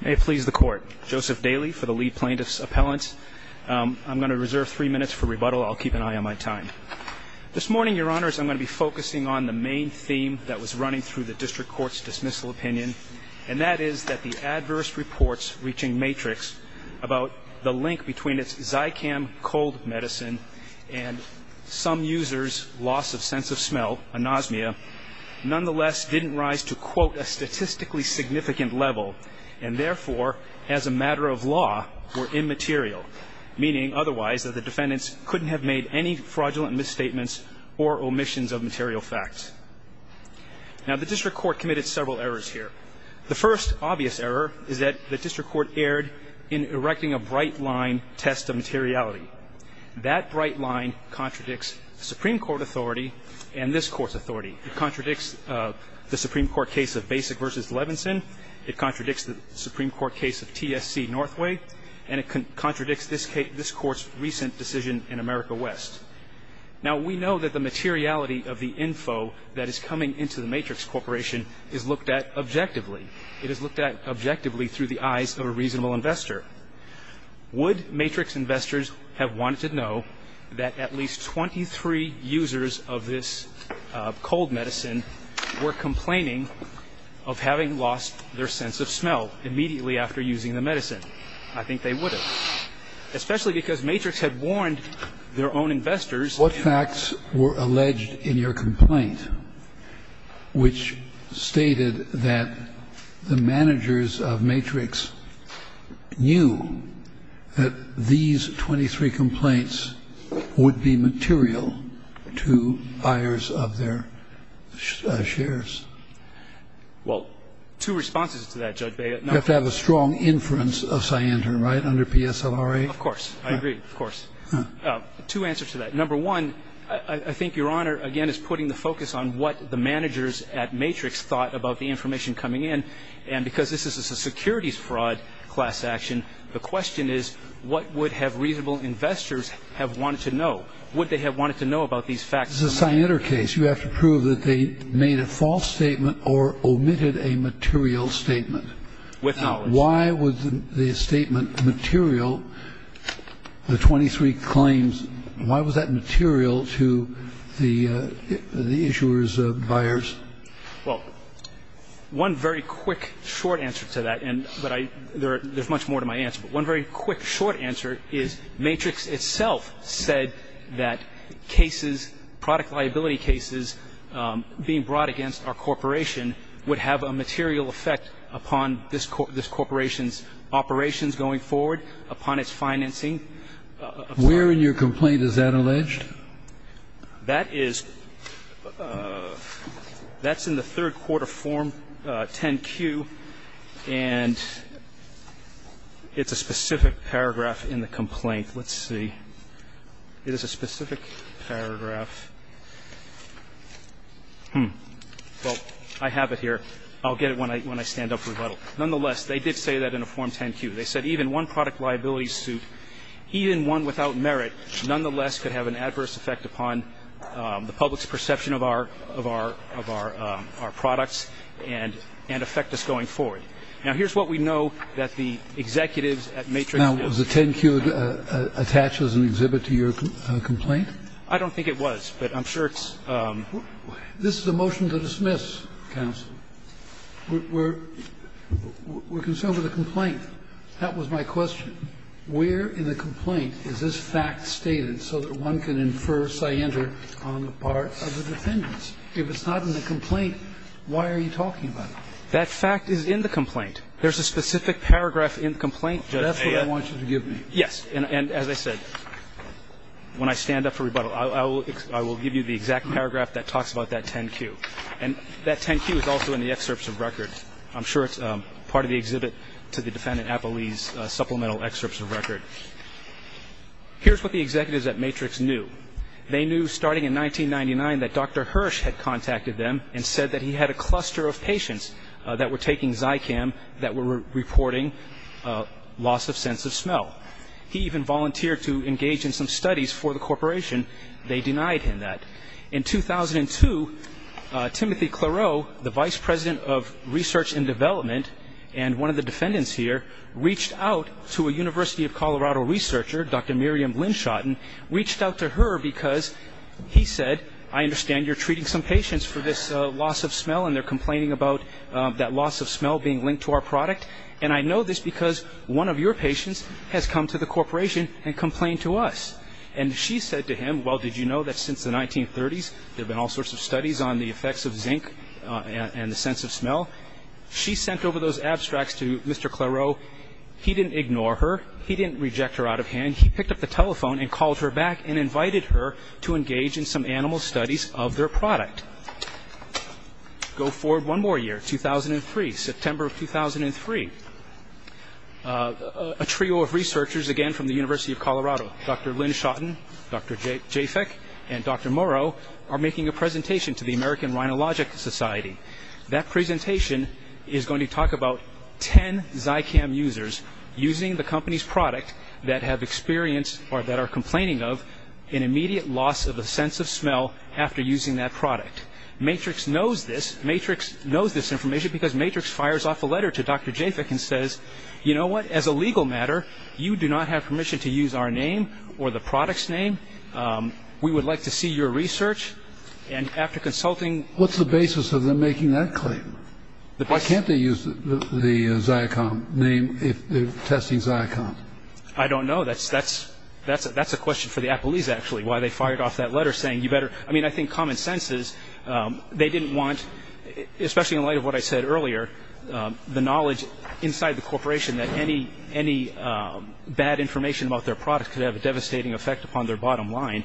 May it please the court, Joseph Daly for the lead plaintiff's appellant. I'm going to reserve three minutes for rebuttal. I'll keep an eye on my time. This morning, your honors, I'm going to be focusing on the main theme that was running through the district court's dismissal opinion, and that is that the adverse reports reaching Maatrixx about the link between its Zycam cold medicine and some users' loss of sense of smell, anosmia, nonetheless didn't rise to, quote, a statistically significant level, and therefore, as a matter of law, were immaterial, meaning otherwise that the defendants couldn't have made any fraudulent misstatements or omissions of material facts. Now, the district court committed several errors here. The first obvious error is that the district court erred in erecting a bright line test of materiality. That bright line contradicts Supreme Court authority and this Court's authority. It contradicts the Supreme Court case of Basic v. Levinson. It contradicts the Supreme Court case of TSC Northway. And it contradicts this Court's recent decision in America West. Now, we know that the materiality of the info that is coming into the Maatrixx Corporation is looked at objectively. It is looked at objectively through the eyes of a reasonable investor. Would Maatrixx investors have wanted to know that at least 23 users of this cold medicine were complaining of having lost their sense of smell immediately after using the medicine? I think they would have, especially because Maatrixx had warned their own investors. What facts were alleged in your complaint which stated that the managers of Maatrixx knew that these 23 complaints would be material to buyers of their shares? Well, two responses to that, Judge Beyer. You have to have a strong inference of scienter, right, under PSLRA? Of course. I agree. Of course. Two answers to that. Number one, I think Your Honor, again, is putting the focus on what the managers at Maatrixx thought about the information coming in. And because this is a securities fraud class action, the question is what would have reasonable investors have wanted to know? Would they have wanted to know about these facts? This is a scienter case. You have to prove that they made a false statement or omitted a material statement. With knowledge. Why was the statement material, the 23 claims, why was that material to the issuers, buyers? Well, one very quick short answer to that, and there's much more to my answer, but one very quick short answer is Maatrixx itself said that cases, product liability cases being brought against our corporation would have a material effect upon this corporation's operations going forward, upon its financing. Where in your complaint is that alleged? That is in the third quarter Form 10-Q, and it's a specific paragraph in the complaint. Let's see. It is a specific paragraph. Well, I have it here. I'll get it when I stand up for rebuttal. Nonetheless, they did say that in a Form 10-Q. They said even one product liability suit, even one without merit, nonetheless could have an adverse effect upon the public's perception of our products and affect us going forward. Now, here's what we know that the executives at Maatrixx. Now, was the 10-Q attached as an exhibit to your complaint? I don't think it was, but I'm sure it's. This is a motion to dismiss, counsel. We're concerned with the complaint. That was my question. Where in the complaint is this fact stated so that one can infer cyander on the part of the defendants? If it's not in the complaint, why are you talking about it? That fact is in the complaint. There's a specific paragraph in the complaint. That's what I want you to give me. Yes. And as I said, when I stand up for rebuttal, I will give you the exact paragraph that talks about that 10-Q. And that 10-Q is also in the excerpts of record. I'm sure it's part of the exhibit to the defendant, Apolli's supplemental excerpts of record. Here's what the executives at Maatrixx knew. They knew starting in 1999 that Dr. Hirsch had contacted them and said that he had a cluster of patients that were taking Zycam that were reporting loss of sense of smell. He even volunteered to engage in some studies for the corporation. They denied him that. In 2002, Timothy Clarot, the vice president of research and development, and one of the defendants here reached out to a University of Colorado researcher, Dr. Miriam Linschotten, reached out to her because he said, I understand you're treating some patients for this loss of smell and they're complaining about that loss of smell being linked to our product. And I know this because one of your patients has come to the corporation and complained to us. And she said to him, well, did you know that since the 1930s, there have been all sorts of studies on the effects of zinc and the sense of smell? She sent over those abstracts to Mr. Clarot. He didn't ignore her. He didn't reject her out of hand. And he picked up the telephone and called her back and invited her to engage in some animal studies of their product. Go forward one more year, 2003, September of 2003. A trio of researchers, again from the University of Colorado, Dr. Linschotten, Dr. Jaffeck, and Dr. Morrow, are making a presentation to the American Rhinologic Society. That presentation is going to talk about 10 Zycam users using the company's product that have experienced or that are complaining of an immediate loss of a sense of smell after using that product. Matrix knows this. Matrix knows this information because Matrix fires off a letter to Dr. Jaffeck and says, you know what? As a legal matter, you do not have permission to use our name or the product's name. We would like to see your research. And after consulting ñ What's the basis of them making that claim? Why can't they use the Zycam name if they're testing Zycam? I don't know. That's a question for the Appleese, actually, why they fired off that letter saying you better ñ I mean, I think common sense is they didn't want, especially in light of what I said earlier, the knowledge inside the corporation that any bad information about their product could have a devastating effect upon their bottom line.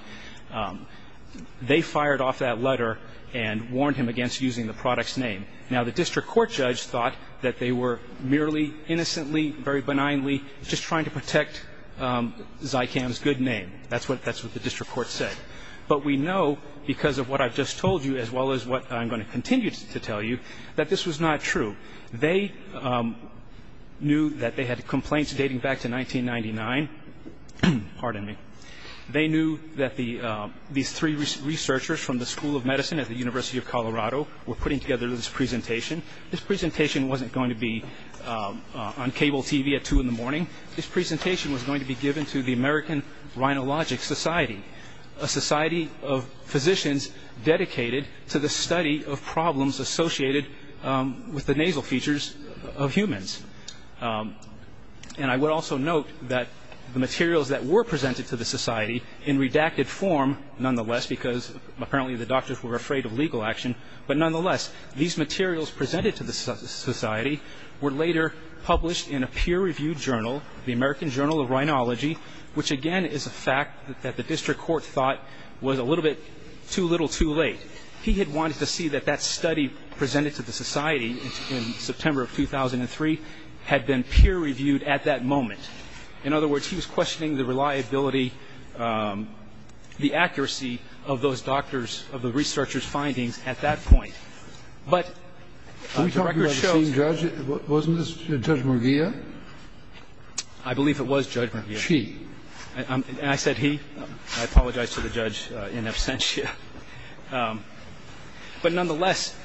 They fired off that letter and warned him against using the product's name. Now, the district court judge thought that they were merely innocently, very benignly, just trying to protect Zycam's good name. That's what the district court said. But we know, because of what I've just told you as well as what I'm going to continue to tell you, that this was not true. They knew that they had complaints dating back to 1999. Pardon me. They knew that these three researchers from the School of Medicine at the University of Colorado were putting together this presentation. This presentation wasn't going to be on cable TV at 2 in the morning. This presentation was going to be given to the American Rhinologic Society, a society of physicians dedicated to the study of problems associated with the nasal features of humans. And I would also note that the materials that were presented to the society in redacted form, nonetheless, because apparently the doctors were afraid of legal action, but nonetheless, these materials presented to the society were later published in a peer-reviewed journal, the American Journal of Rhinology, which, again, is a fact that the district court thought was a little bit too little too late. But he had wanted to see that that study presented to the society in September of 2003 had been peer-reviewed at that moment. In other words, he was questioning the reliability, the accuracy of those doctors, of the researchers' findings at that point. But the record shows that... Were we talking about the same judge? Wasn't this Judge Murguia? I believe it was Judge Murguia. She. And I said he. I apologize to the judge in absentia. But nonetheless,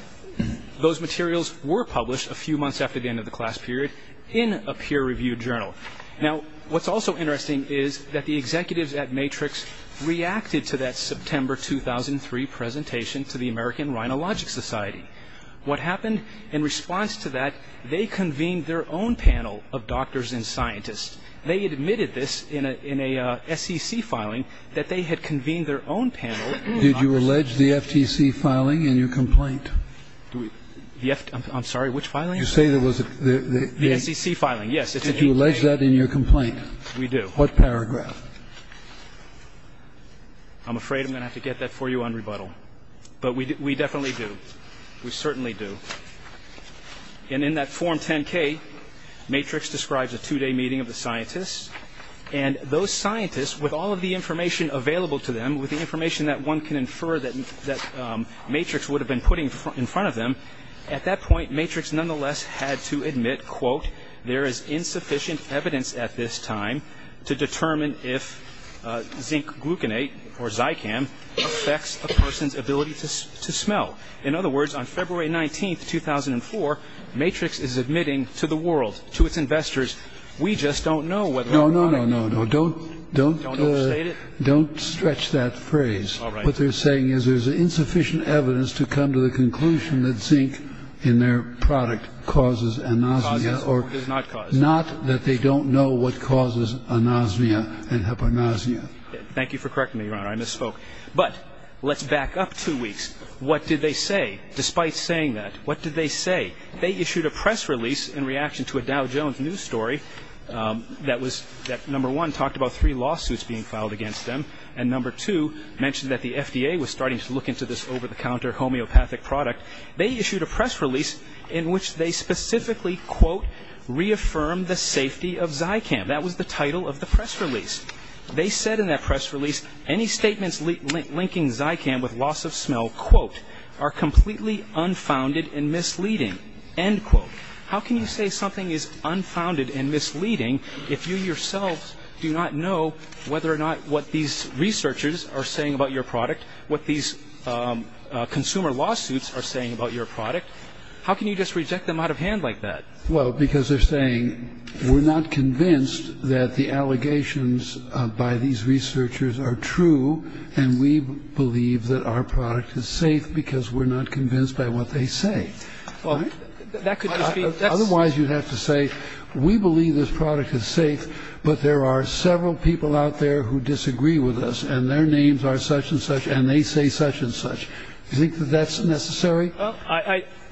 those materials were published a few months after the end of the class period in a peer-reviewed journal. Now, what's also interesting is that the executives at Matrix reacted to that September 2003 presentation to the American Rhinologic Society. What happened in response to that, they convened their own panel of doctors and scientists. They admitted this in a SEC filing, that they had convened their own panel of doctors and scientists. Did you allege the FTC filing in your complaint? I'm sorry, which filing? You say there was a... The SEC filing, yes. Did you allege that in your complaint? We do. What paragraph? I'm afraid I'm going to have to get that for you on rebuttal. But we definitely do. We certainly do. And in that Form 10-K, Matrix describes a two-day meeting of the scientists. And those scientists, with all of the information available to them, with the information that one can infer that Matrix would have been putting in front of them, at that point Matrix nonetheless had to admit, quote, there is insufficient evidence at this time to determine if zinc gluconate or Zycam affects a person's ability to smell. In other words, on February 19, 2004, Matrix is admitting to the world, to its investors, we just don't know whether... No, no, no, no, no. Don't... Don't overstate it? Don't stretch that phrase. All right. What they're saying is there's insufficient evidence to come to the conclusion that zinc in their product causes anosmia or... Causes or does not cause... Not that they don't know what causes anosmia and hyponasmia. Thank you for correcting me, Your Honor. I misspoke. But let's back up two weeks. What did they say? Despite saying that, what did they say? They issued a press release in reaction to a Dow Jones news story that was, number one, talked about three lawsuits being filed against them, and number two mentioned that the FDA was starting to look into this over-the-counter homeopathic product. They issued a press release in which they specifically, quote, reaffirmed the safety of Zycam. That was the title of the press release. They said in that press release, any statements linking Zycam with loss of smell, quote, are completely unfounded and misleading, end quote. How can you say something is unfounded and misleading if you yourselves do not know whether or not what these researchers are saying about your product, what these consumer lawsuits are saying about your product? How can you just reject them out of hand like that? Well, because they're saying, we're not convinced that the allegations by these researchers are true and we believe that our product is safe because we're not convinced by what they say. Otherwise, you'd have to say, we believe this product is safe, but there are several people out there who disagree with us and their names are such and such and they say such and such. Do you think that that's necessary?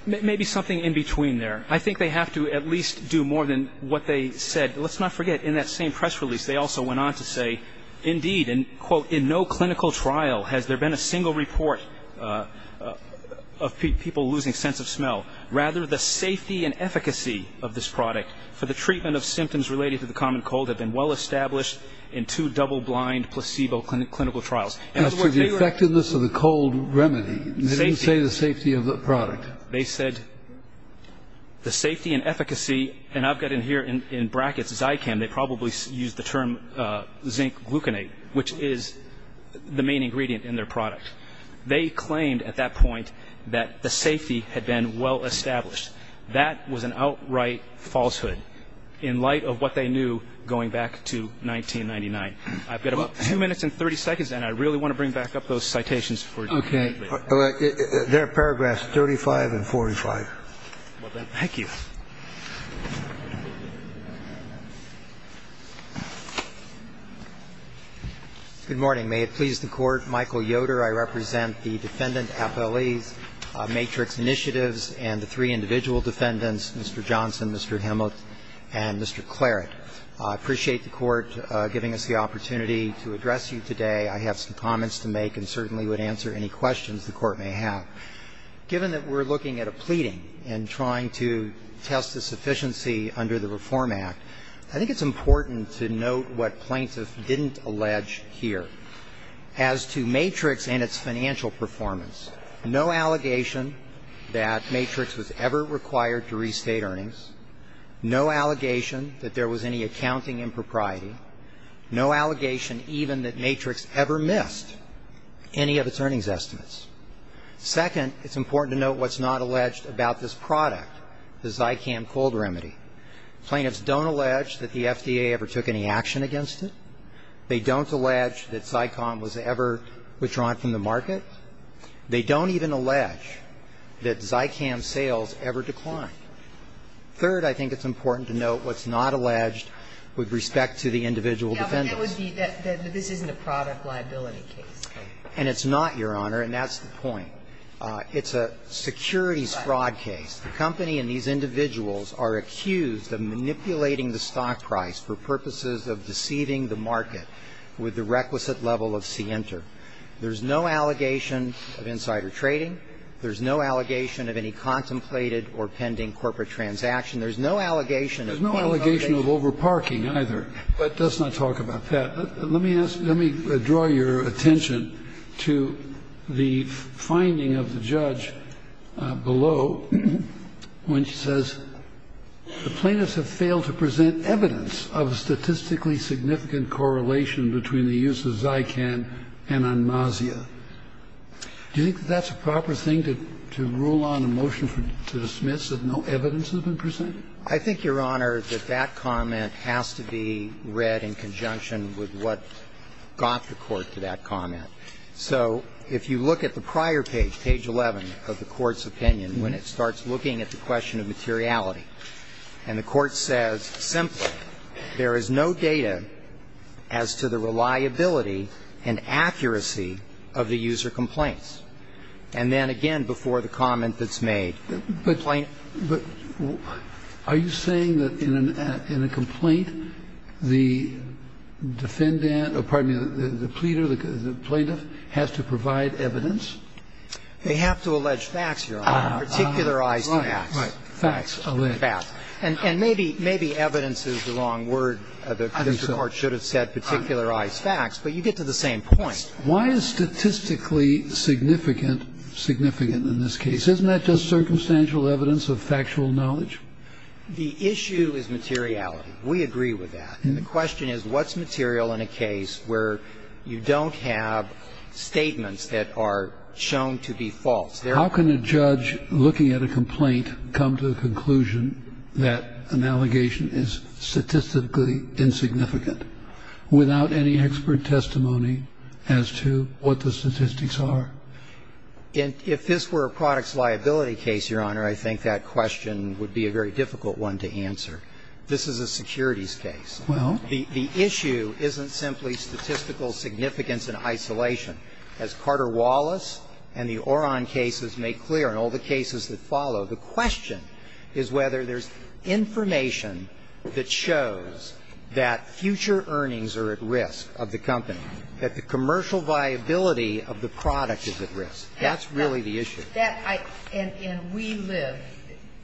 Maybe something in between there. I think they have to at least do more than what they said. Let's not forget, in that same press release, they also went on to say, indeed, end quote, in no clinical trial has there been a single report of people losing sense of smell. Rather, the safety and efficacy of this product for the treatment of symptoms related to the common cold have been well established in two double-blind placebo clinical trials. As to the effectiveness of the cold remedy, they didn't say the safety of the product. They said the safety and efficacy, and I've got in here in brackets Zycam, they probably used the term zinc gluconate, which is the main ingredient in their product. They claimed at that point that the safety had been well established. That was an outright falsehood in light of what they knew going back to 1999. I've got about two minutes and 30 seconds, and I really want to bring back up those citations for you. They're paragraphs 35 and 45. Thank you. Good morning. May it please the Court. Michael Yoder. I represent the Defendant Appellee's Matrix Initiatives and the three individual defendants, Mr. Johnson, Mr. Himmelt, and Mr. Claret. I appreciate the Court giving us the opportunity to address you today. I have some comments to make and certainly would answer any questions the Court may have. Given that we're looking at a pleading and trying to test the sufficiency under the Reform Act, I think it's important to note what plaintiffs didn't allege here as to Matrix and its financial performance. No allegation that Matrix was ever required to restate earnings. No allegation that there was any accounting impropriety. No allegation even that Matrix ever missed any of its earnings estimates. Second, it's important to note what's not alleged about this product, the Zycam cold remedy. Plaintiffs don't allege that the FDA ever took any action against it. They don't allege that Zycom was ever withdrawn from the market. They don't even allege that Zycam sales ever declined. Third, I think it's important to note what's not alleged with respect to the individual defendants. But that would be that this isn't a product liability case. And it's not, Your Honor, and that's the point. It's a securities fraud case. The company and these individuals are accused of manipulating the stock price for purposes of deceiving the market with the requisite level of scienter. There's no allegation of insider trading. There's no allegation of any contemplated or pending corporate transaction. There's no allegation of overparking either. But let's not talk about that. Let me ask you, let me draw your attention to the finding of the judge below when she says the plaintiffs have failed to present evidence of a statistically significant correlation between the use of Zycam and Onmasia. Do you think that that's a proper thing, to rule on a motion to dismiss that no evidence has been presented? I think, Your Honor, that that comment has to be read in conjunction with what got the Court to that comment. So if you look at the prior page, page 11 of the Court's opinion, when it starts looking at the question of materiality, and the Court says simply, there is no data to support that claim, then you have to look at the prior page of the Court's opinion as to the reliability and accuracy of the user complaints. And then, again, before the comment that's made, the plaintiff. But are you saying that in a complaint, the defendant or, pardon me, the pleader, the plaintiff has to provide evidence? They have to allege facts, Your Honor, particularized facts. Right. Facts. Facts. And maybe evidence is the wrong word. I think so. The court should have said particularized facts. But you get to the same point. Why is statistically significant significant in this case? Isn't that just circumstantial evidence of factual knowledge? The issue is materiality. We agree with that. And the question is, what's material in a case where you don't have statements that are shown to be false? How can a judge looking at a complaint come to the conclusion that an allegation is statistically insignificant without any expert testimony as to what the statistics are? If this were a products liability case, Your Honor, I think that question would be a very difficult one to answer. This is a securities case. Well. The issue isn't simply statistical significance in isolation. As Carter Wallace and the Oron cases make clear, and all the cases that follow, the question is whether there's information that shows that future earnings are at risk of the company, that the commercial viability of the product is at risk. That's really the issue. And we live,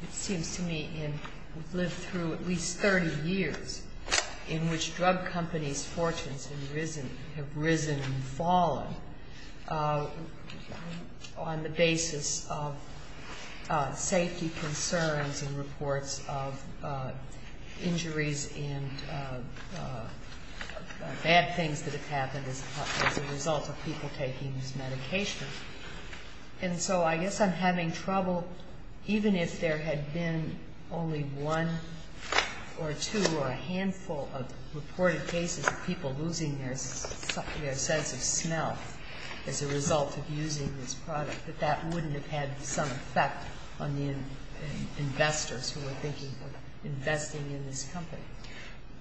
it seems to me, in we've lived through at least 30 years in which drug companies' fortunes have risen and fallen on the basis of safety concerns and reports of injuries and bad things that have happened as a result of people taking these medications. And so I guess I'm having trouble, even if there had been only one or two or a few reported cases of people losing their sense of smell as a result of using this product, that that wouldn't have had some effect on the investors who were thinking of investing in this company.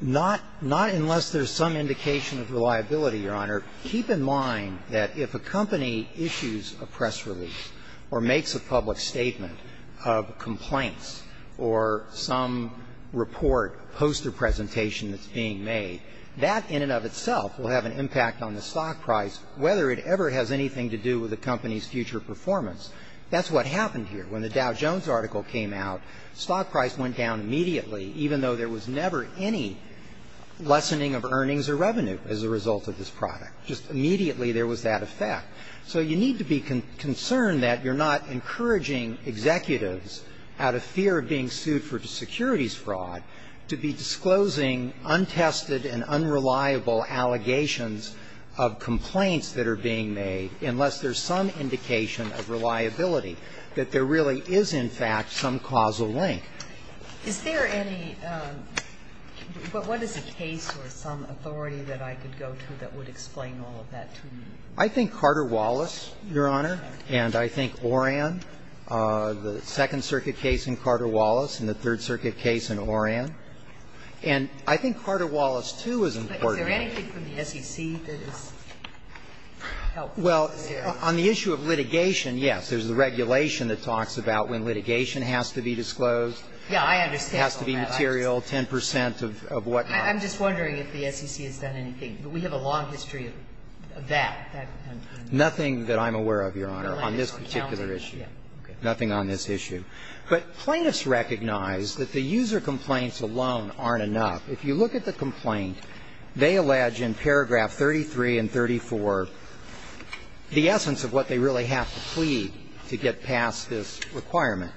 Not unless there's some indication of reliability, Your Honor. Keep in mind that if a company issues a press release or makes a public statement of complaints or some report, poster presentation that's being made, that in and of itself will have an impact on the stock price, whether it ever has anything to do with the company's future performance. That's what happened here. When the Dow Jones article came out, stock price went down immediately, even though there was never any lessening of earnings or revenue as a result of this product. Just immediately there was that effect. So you need to be concerned that you're not encouraging executives, out of fear of being sued for securities fraud, to be disclosing untested and unreliable allegations of complaints that are being made unless there's some indication of reliability, that there really is, in fact, some causal link. Is there any ñ what is the case or some authority that I could go to that would explain all of that to me? I think Carter-Wallace, Your Honor, and I think Oran. The Second Circuit case in Carter-Wallace and the Third Circuit case in Oran. And I think Carter-Wallace, too, is important. But is there anything from the SEC that is helpful? Well, on the issue of litigation, yes. There's the regulation that talks about when litigation has to be disclosed. Yeah, I understand all that. It has to be material, 10 percent of what not. I'm just wondering if the SEC has done anything. We have a long history of that. Nothing that I'm aware of, Your Honor, on this particular issue. Nothing on this issue. But plaintiffs recognize that the user complaints alone aren't enough. If you look at the complaint, they allege in paragraph 33 and 34 the essence of what they really have to plead to get past this requirement,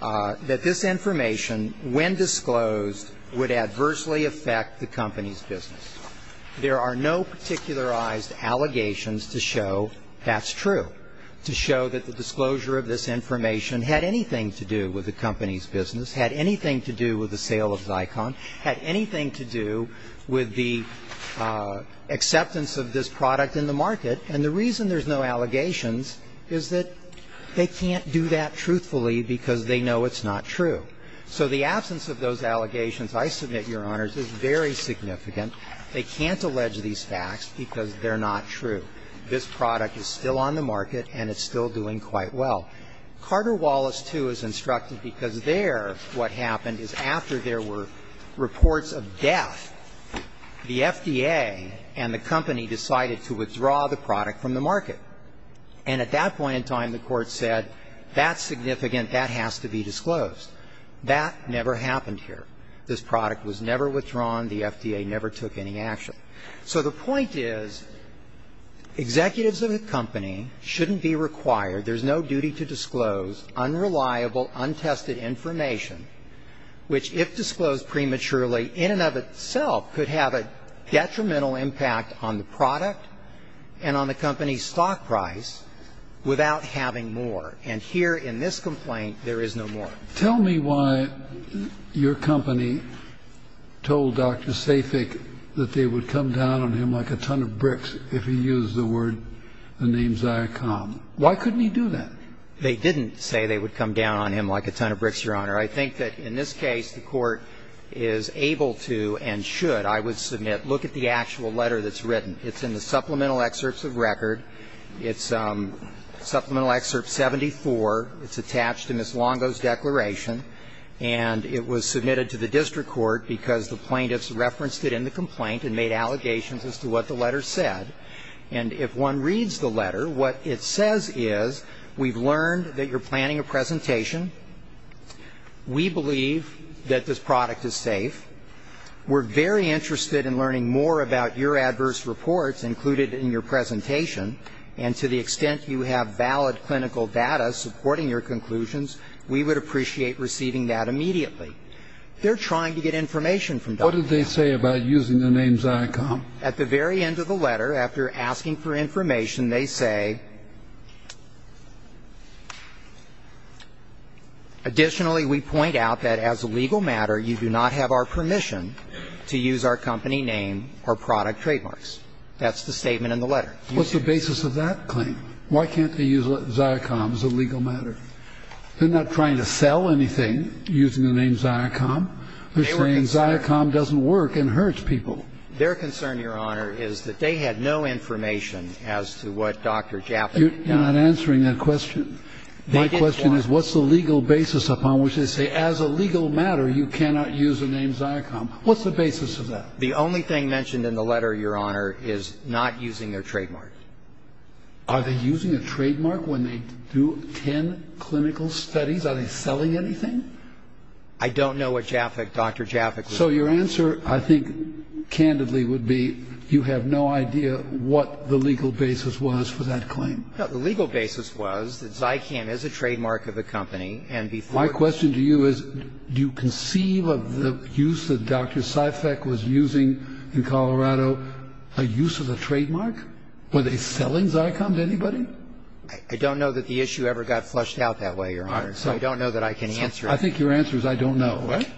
that this information when disclosed would adversely affect the company's business. There are no particularized allegations to show that's true, to show that the disclosure of this information had anything to do with the company's business, had anything to do with the sale of Zycon, had anything to do with the acceptance of this product in the market. And the reason there's no allegations is that they can't do that truthfully because they know it's not true. So the absence of those allegations, I submit, Your Honors, is very significant. They can't allege these facts because they're not true. This product is still on the market and it's still doing quite well. Carter Wallace, too, is instructed because there what happened is after there were reports of death, the FDA and the company decided to withdraw the product from the market. And at that point in time, the Court said that's significant, that has to be disclosed. That never happened here. This product was never withdrawn. The FDA never took any action. So the point is executives of a company shouldn't be required, there's no duty to disclose unreliable, untested information, which if disclosed prematurely in and of itself could have a detrimental impact on the product and on the company's stock price without having more. And here in this complaint, there is no more. Tell me why your company told Dr. Safik that they would come down on him like a ton of bricks if he used the word, the name Ziacom. Why couldn't he do that? They didn't say they would come down on him like a ton of bricks, Your Honor. I think that in this case, the Court is able to and should, I would submit, look at the actual letter that's written. It's in the supplemental excerpts of record. It's supplemental excerpt 74. It's attached to Ms. Longo's declaration. And it was submitted to the district court because the plaintiffs referenced it in the complaint and made allegations as to what the letter said. And if one reads the letter, what it says is we've learned that you're planning a presentation. We believe that this product is safe. We're very interested in learning more about your adverse reports included in your presentation. And to the extent you have valid clinical data supporting your conclusions, we would appreciate receiving that immediately. They're trying to get information from Dr. Safik. What did they say about using the name Ziacom? At the very end of the letter, after asking for information, they say, additionally we point out that as a legal matter, you do not have our permission to use our company name or product trademarks. That's the statement in the letter. What's the basis of that claim? Why can't they use Ziacom as a legal matter? They're not trying to sell anything using the name Ziacom. They're saying Ziacom doesn't work and hurts people. Their concern, Your Honor, is that they had no information as to what Dr. Jaffer got. You're not answering that question. My question is what's the legal basis upon which they say as a legal matter, you cannot use the name Ziacom. What's the basis of that? The only thing mentioned in the letter, Your Honor, is not using their trademark. Are they using a trademark when they do ten clinical studies? Are they selling anything? I don't know what Dr. Jaffer was doing. So your answer, I think, candidly would be you have no idea what the legal basis was for that claim. The legal basis was that Ziacom is a trademark of the company. My question to you is, do you conceive of the use that Dr. Sifek was using in Colorado, a use of the trademark? Were they selling Ziacom to anybody? I don't know that the issue ever got flushed out that way, Your Honor. So I don't know that I can answer that. I think your answer is I don't know, right?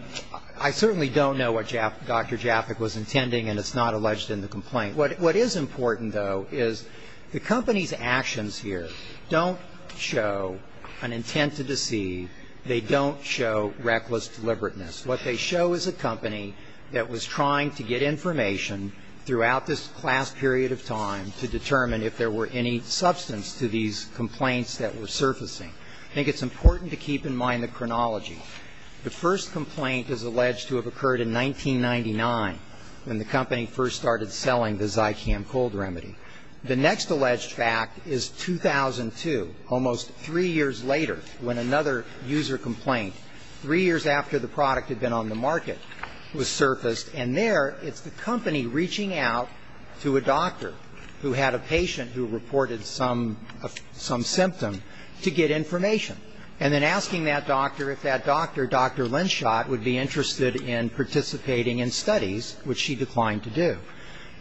I certainly don't know what Dr. Jaffer was intending, and it's not alleged in the complaint. What is important, though, is the company's actions here don't show an intent to deceive They don't show reckless deliberateness. What they show is a company that was trying to get information throughout this class period of time to determine if there were any substance to these complaints that were surfacing. I think it's important to keep in mind the chronology. The first complaint is alleged to have occurred in 1999, when the company first started selling the Ziacom cold remedy. The next alleged fact is 2002, almost three years later, when another user complaint, three years after the product had been on the market, was surfaced. And there it's the company reaching out to a doctor who had a patient who reported some symptom to get information, and then asking that doctor if that doctor, Dr. Linschot, would be interested in participating in studies, which she declined to do.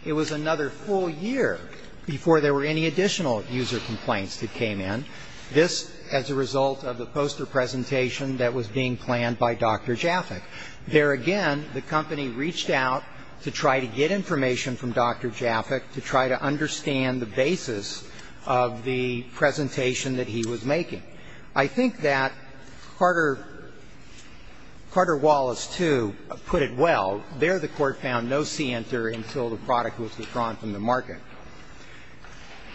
It was another full year before there were any additional user complaints that came in. This as a result of the poster presentation that was being planned by Dr. Jaffick. There again, the company reached out to try to get information from Dr. Jaffick to try to understand the basis of the presentation that he was making. I think that Carter, Carter Wallace, too, put it well. There the court found no see-enter until the product was withdrawn from the market.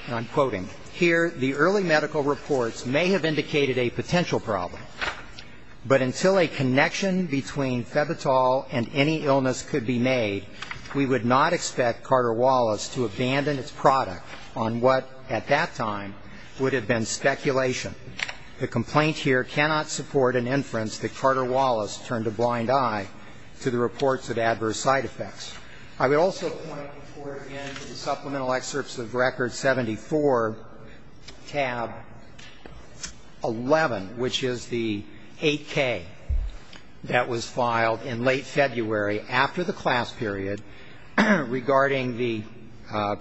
And I'm quoting. Here, the early medical reports may have indicated a potential problem, but until a connection between Febitol and any illness could be made, we would not expect Carter Wallace to abandon its product on what, at that time, would have been speculation. The complaint here cannot support an inference that Carter Wallace turned a blind eye to the reports of adverse side effects. I would also point the court in to the supplemental excerpts of record 74, tab 11, which is the 8K that was filed in late February after the class period regarding the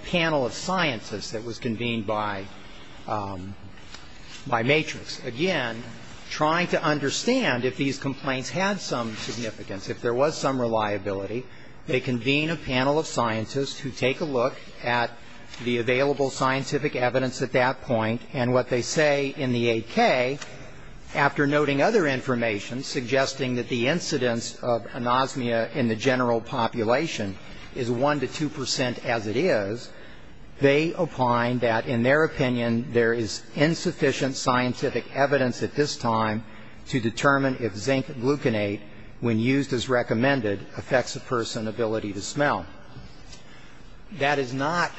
panel of scientists that was convened by, by Matrix. Again, trying to understand if these complaints had some significance, if there was some reliability, they convene a panel of scientists who take a look at the available scientific evidence at that point, and what they say in the 8K, after noting other information suggesting that the incidence of anosmia in the general population is 1 to 2 percent as it is, they opine that, in their opinion, there is insufficient scientific evidence at this time to determine if zinc gluconate, when used as recommended, affects a person's ability to smell. That is not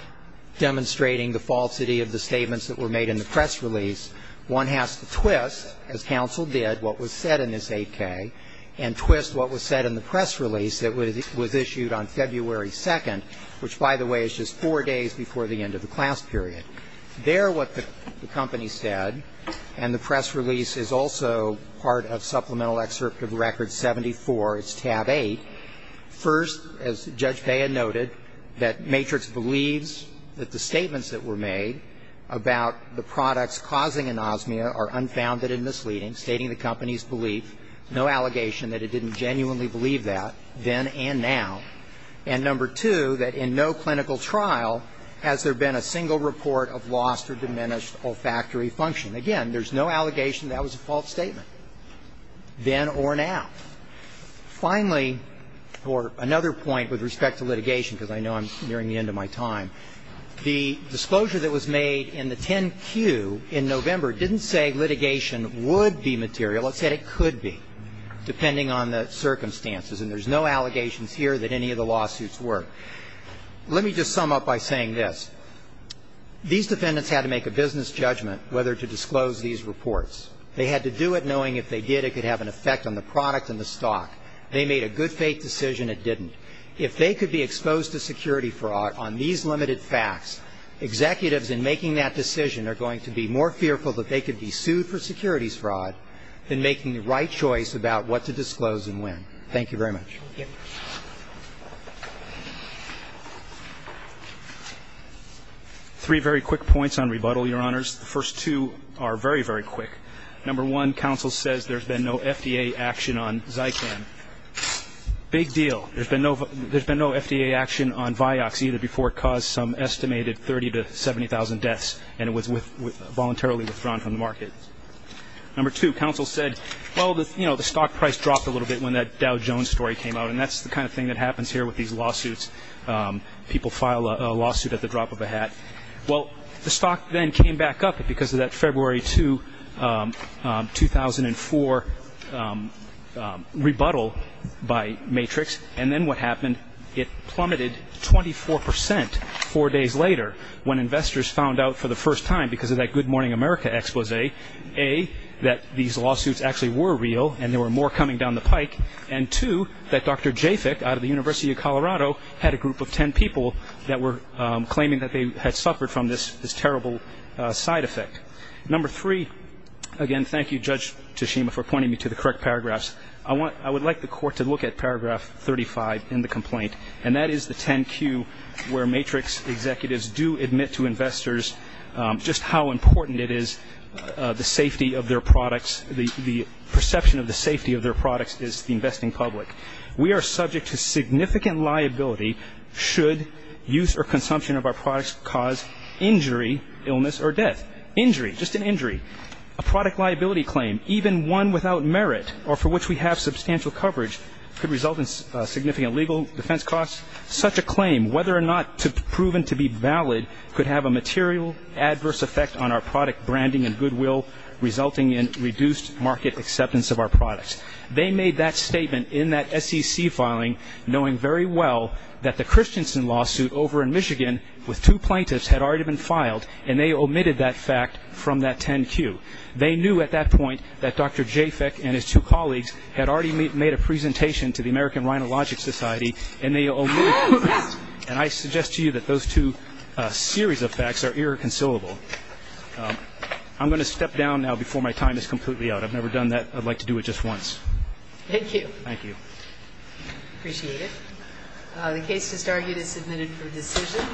demonstrating the falsity of the statements that were made in the press release. One has to twist, as counsel did, what was said in this 8K, and twist what was said in the press release that was issued on February 2nd, which, by the way, is just four days before the end of the class period. There, what the company said, and the press release is also part of Supplemental Excerpt of Record 74. It's tab 8. First, as Judge Bea noted, that Matrix believes that the statements that were made about the products causing anosmia are unfounded and misleading, stating the company's belief, no allegation that it didn't genuinely believe that, then and now. And number two, that in no clinical trial has there been a single report of lost or diminished olfactory function. Again, there's no allegation that that was a false statement, then or now. Finally, or another point with respect to litigation, because I know I'm nearing the end of my time, the disclosure that was made in the 10Q in November didn't say litigation would be material. It said it could be, depending on the circumstances. And there's no allegations here that any of the lawsuits were. Let me just sum up by saying this. These defendants had to make a business judgment whether to disclose these reports. They had to do it knowing if they did, it could have an effect on the product and the stock. They made a good faith decision it didn't. If they could be exposed to security fraud on these limited facts, executives in making that decision are going to be more fearful that they could be sued for securities fraud than making the right choice about what to disclose and when. Thank you very much. Thank you. Three very quick points on rebuttal, Your Honors. The first two are very, very quick. Number one, counsel says there's been no FDA action on Zycan. Big deal. There's been no FDA action on Vioxx either before it caused some estimated 30 to 70,000 deaths and it was voluntarily withdrawn from the market. Number two, counsel said, well, you know, the stock price dropped a little bit when that Dow Jones story came out and that's the kind of thing that happens here with these lawsuits. People file a lawsuit at the drop of a hat. Well, the stock then came back up because of that February 2, 2004, rebuttal by Matrix and then what happened? It plummeted 24 percent four days later when investors found out for the first time because of that Good Morning America expose, A, that these lawsuits actually were real and there were more coming down the pike, and two, that Dr. Jafick out of the University of Colorado had a group of 10 people that were claiming that they had suffered from this terrible side effect. Number three, again, thank you, Judge Tashima, for pointing me to the correct paragraphs. I would like the court to look at paragraph 35 in the complaint and that is the 10Q where Matrix executives do admit to investors just how important it is the safety of their products, the perception of the safety of their products is the investing public. We are subject to significant liability should use or consumption of our products cause injury, illness, or death. Injury, just an injury, a product liability claim, even one without merit or for which we have substantial coverage could result in significant legal defense costs. Such a claim, whether or not proven to be valid, could have a material adverse effect on our product branding and goodwill resulting in reduced market acceptance of our products. They made that statement in that SEC filing knowing very well that the Christiansen lawsuit over in Michigan with two plaintiffs had already been filed and they omitted that fact from that 10Q. They knew at that point that Dr. Jafick and his two colleagues had already made a and they omitted it. And I suggest to you that those two series of facts are irreconcilable. I'm going to step down now before my time is completely out. I've never done that. I'd like to do it just once. Thank you. Thank you. Appreciate it. The case just argued is submitted for decision.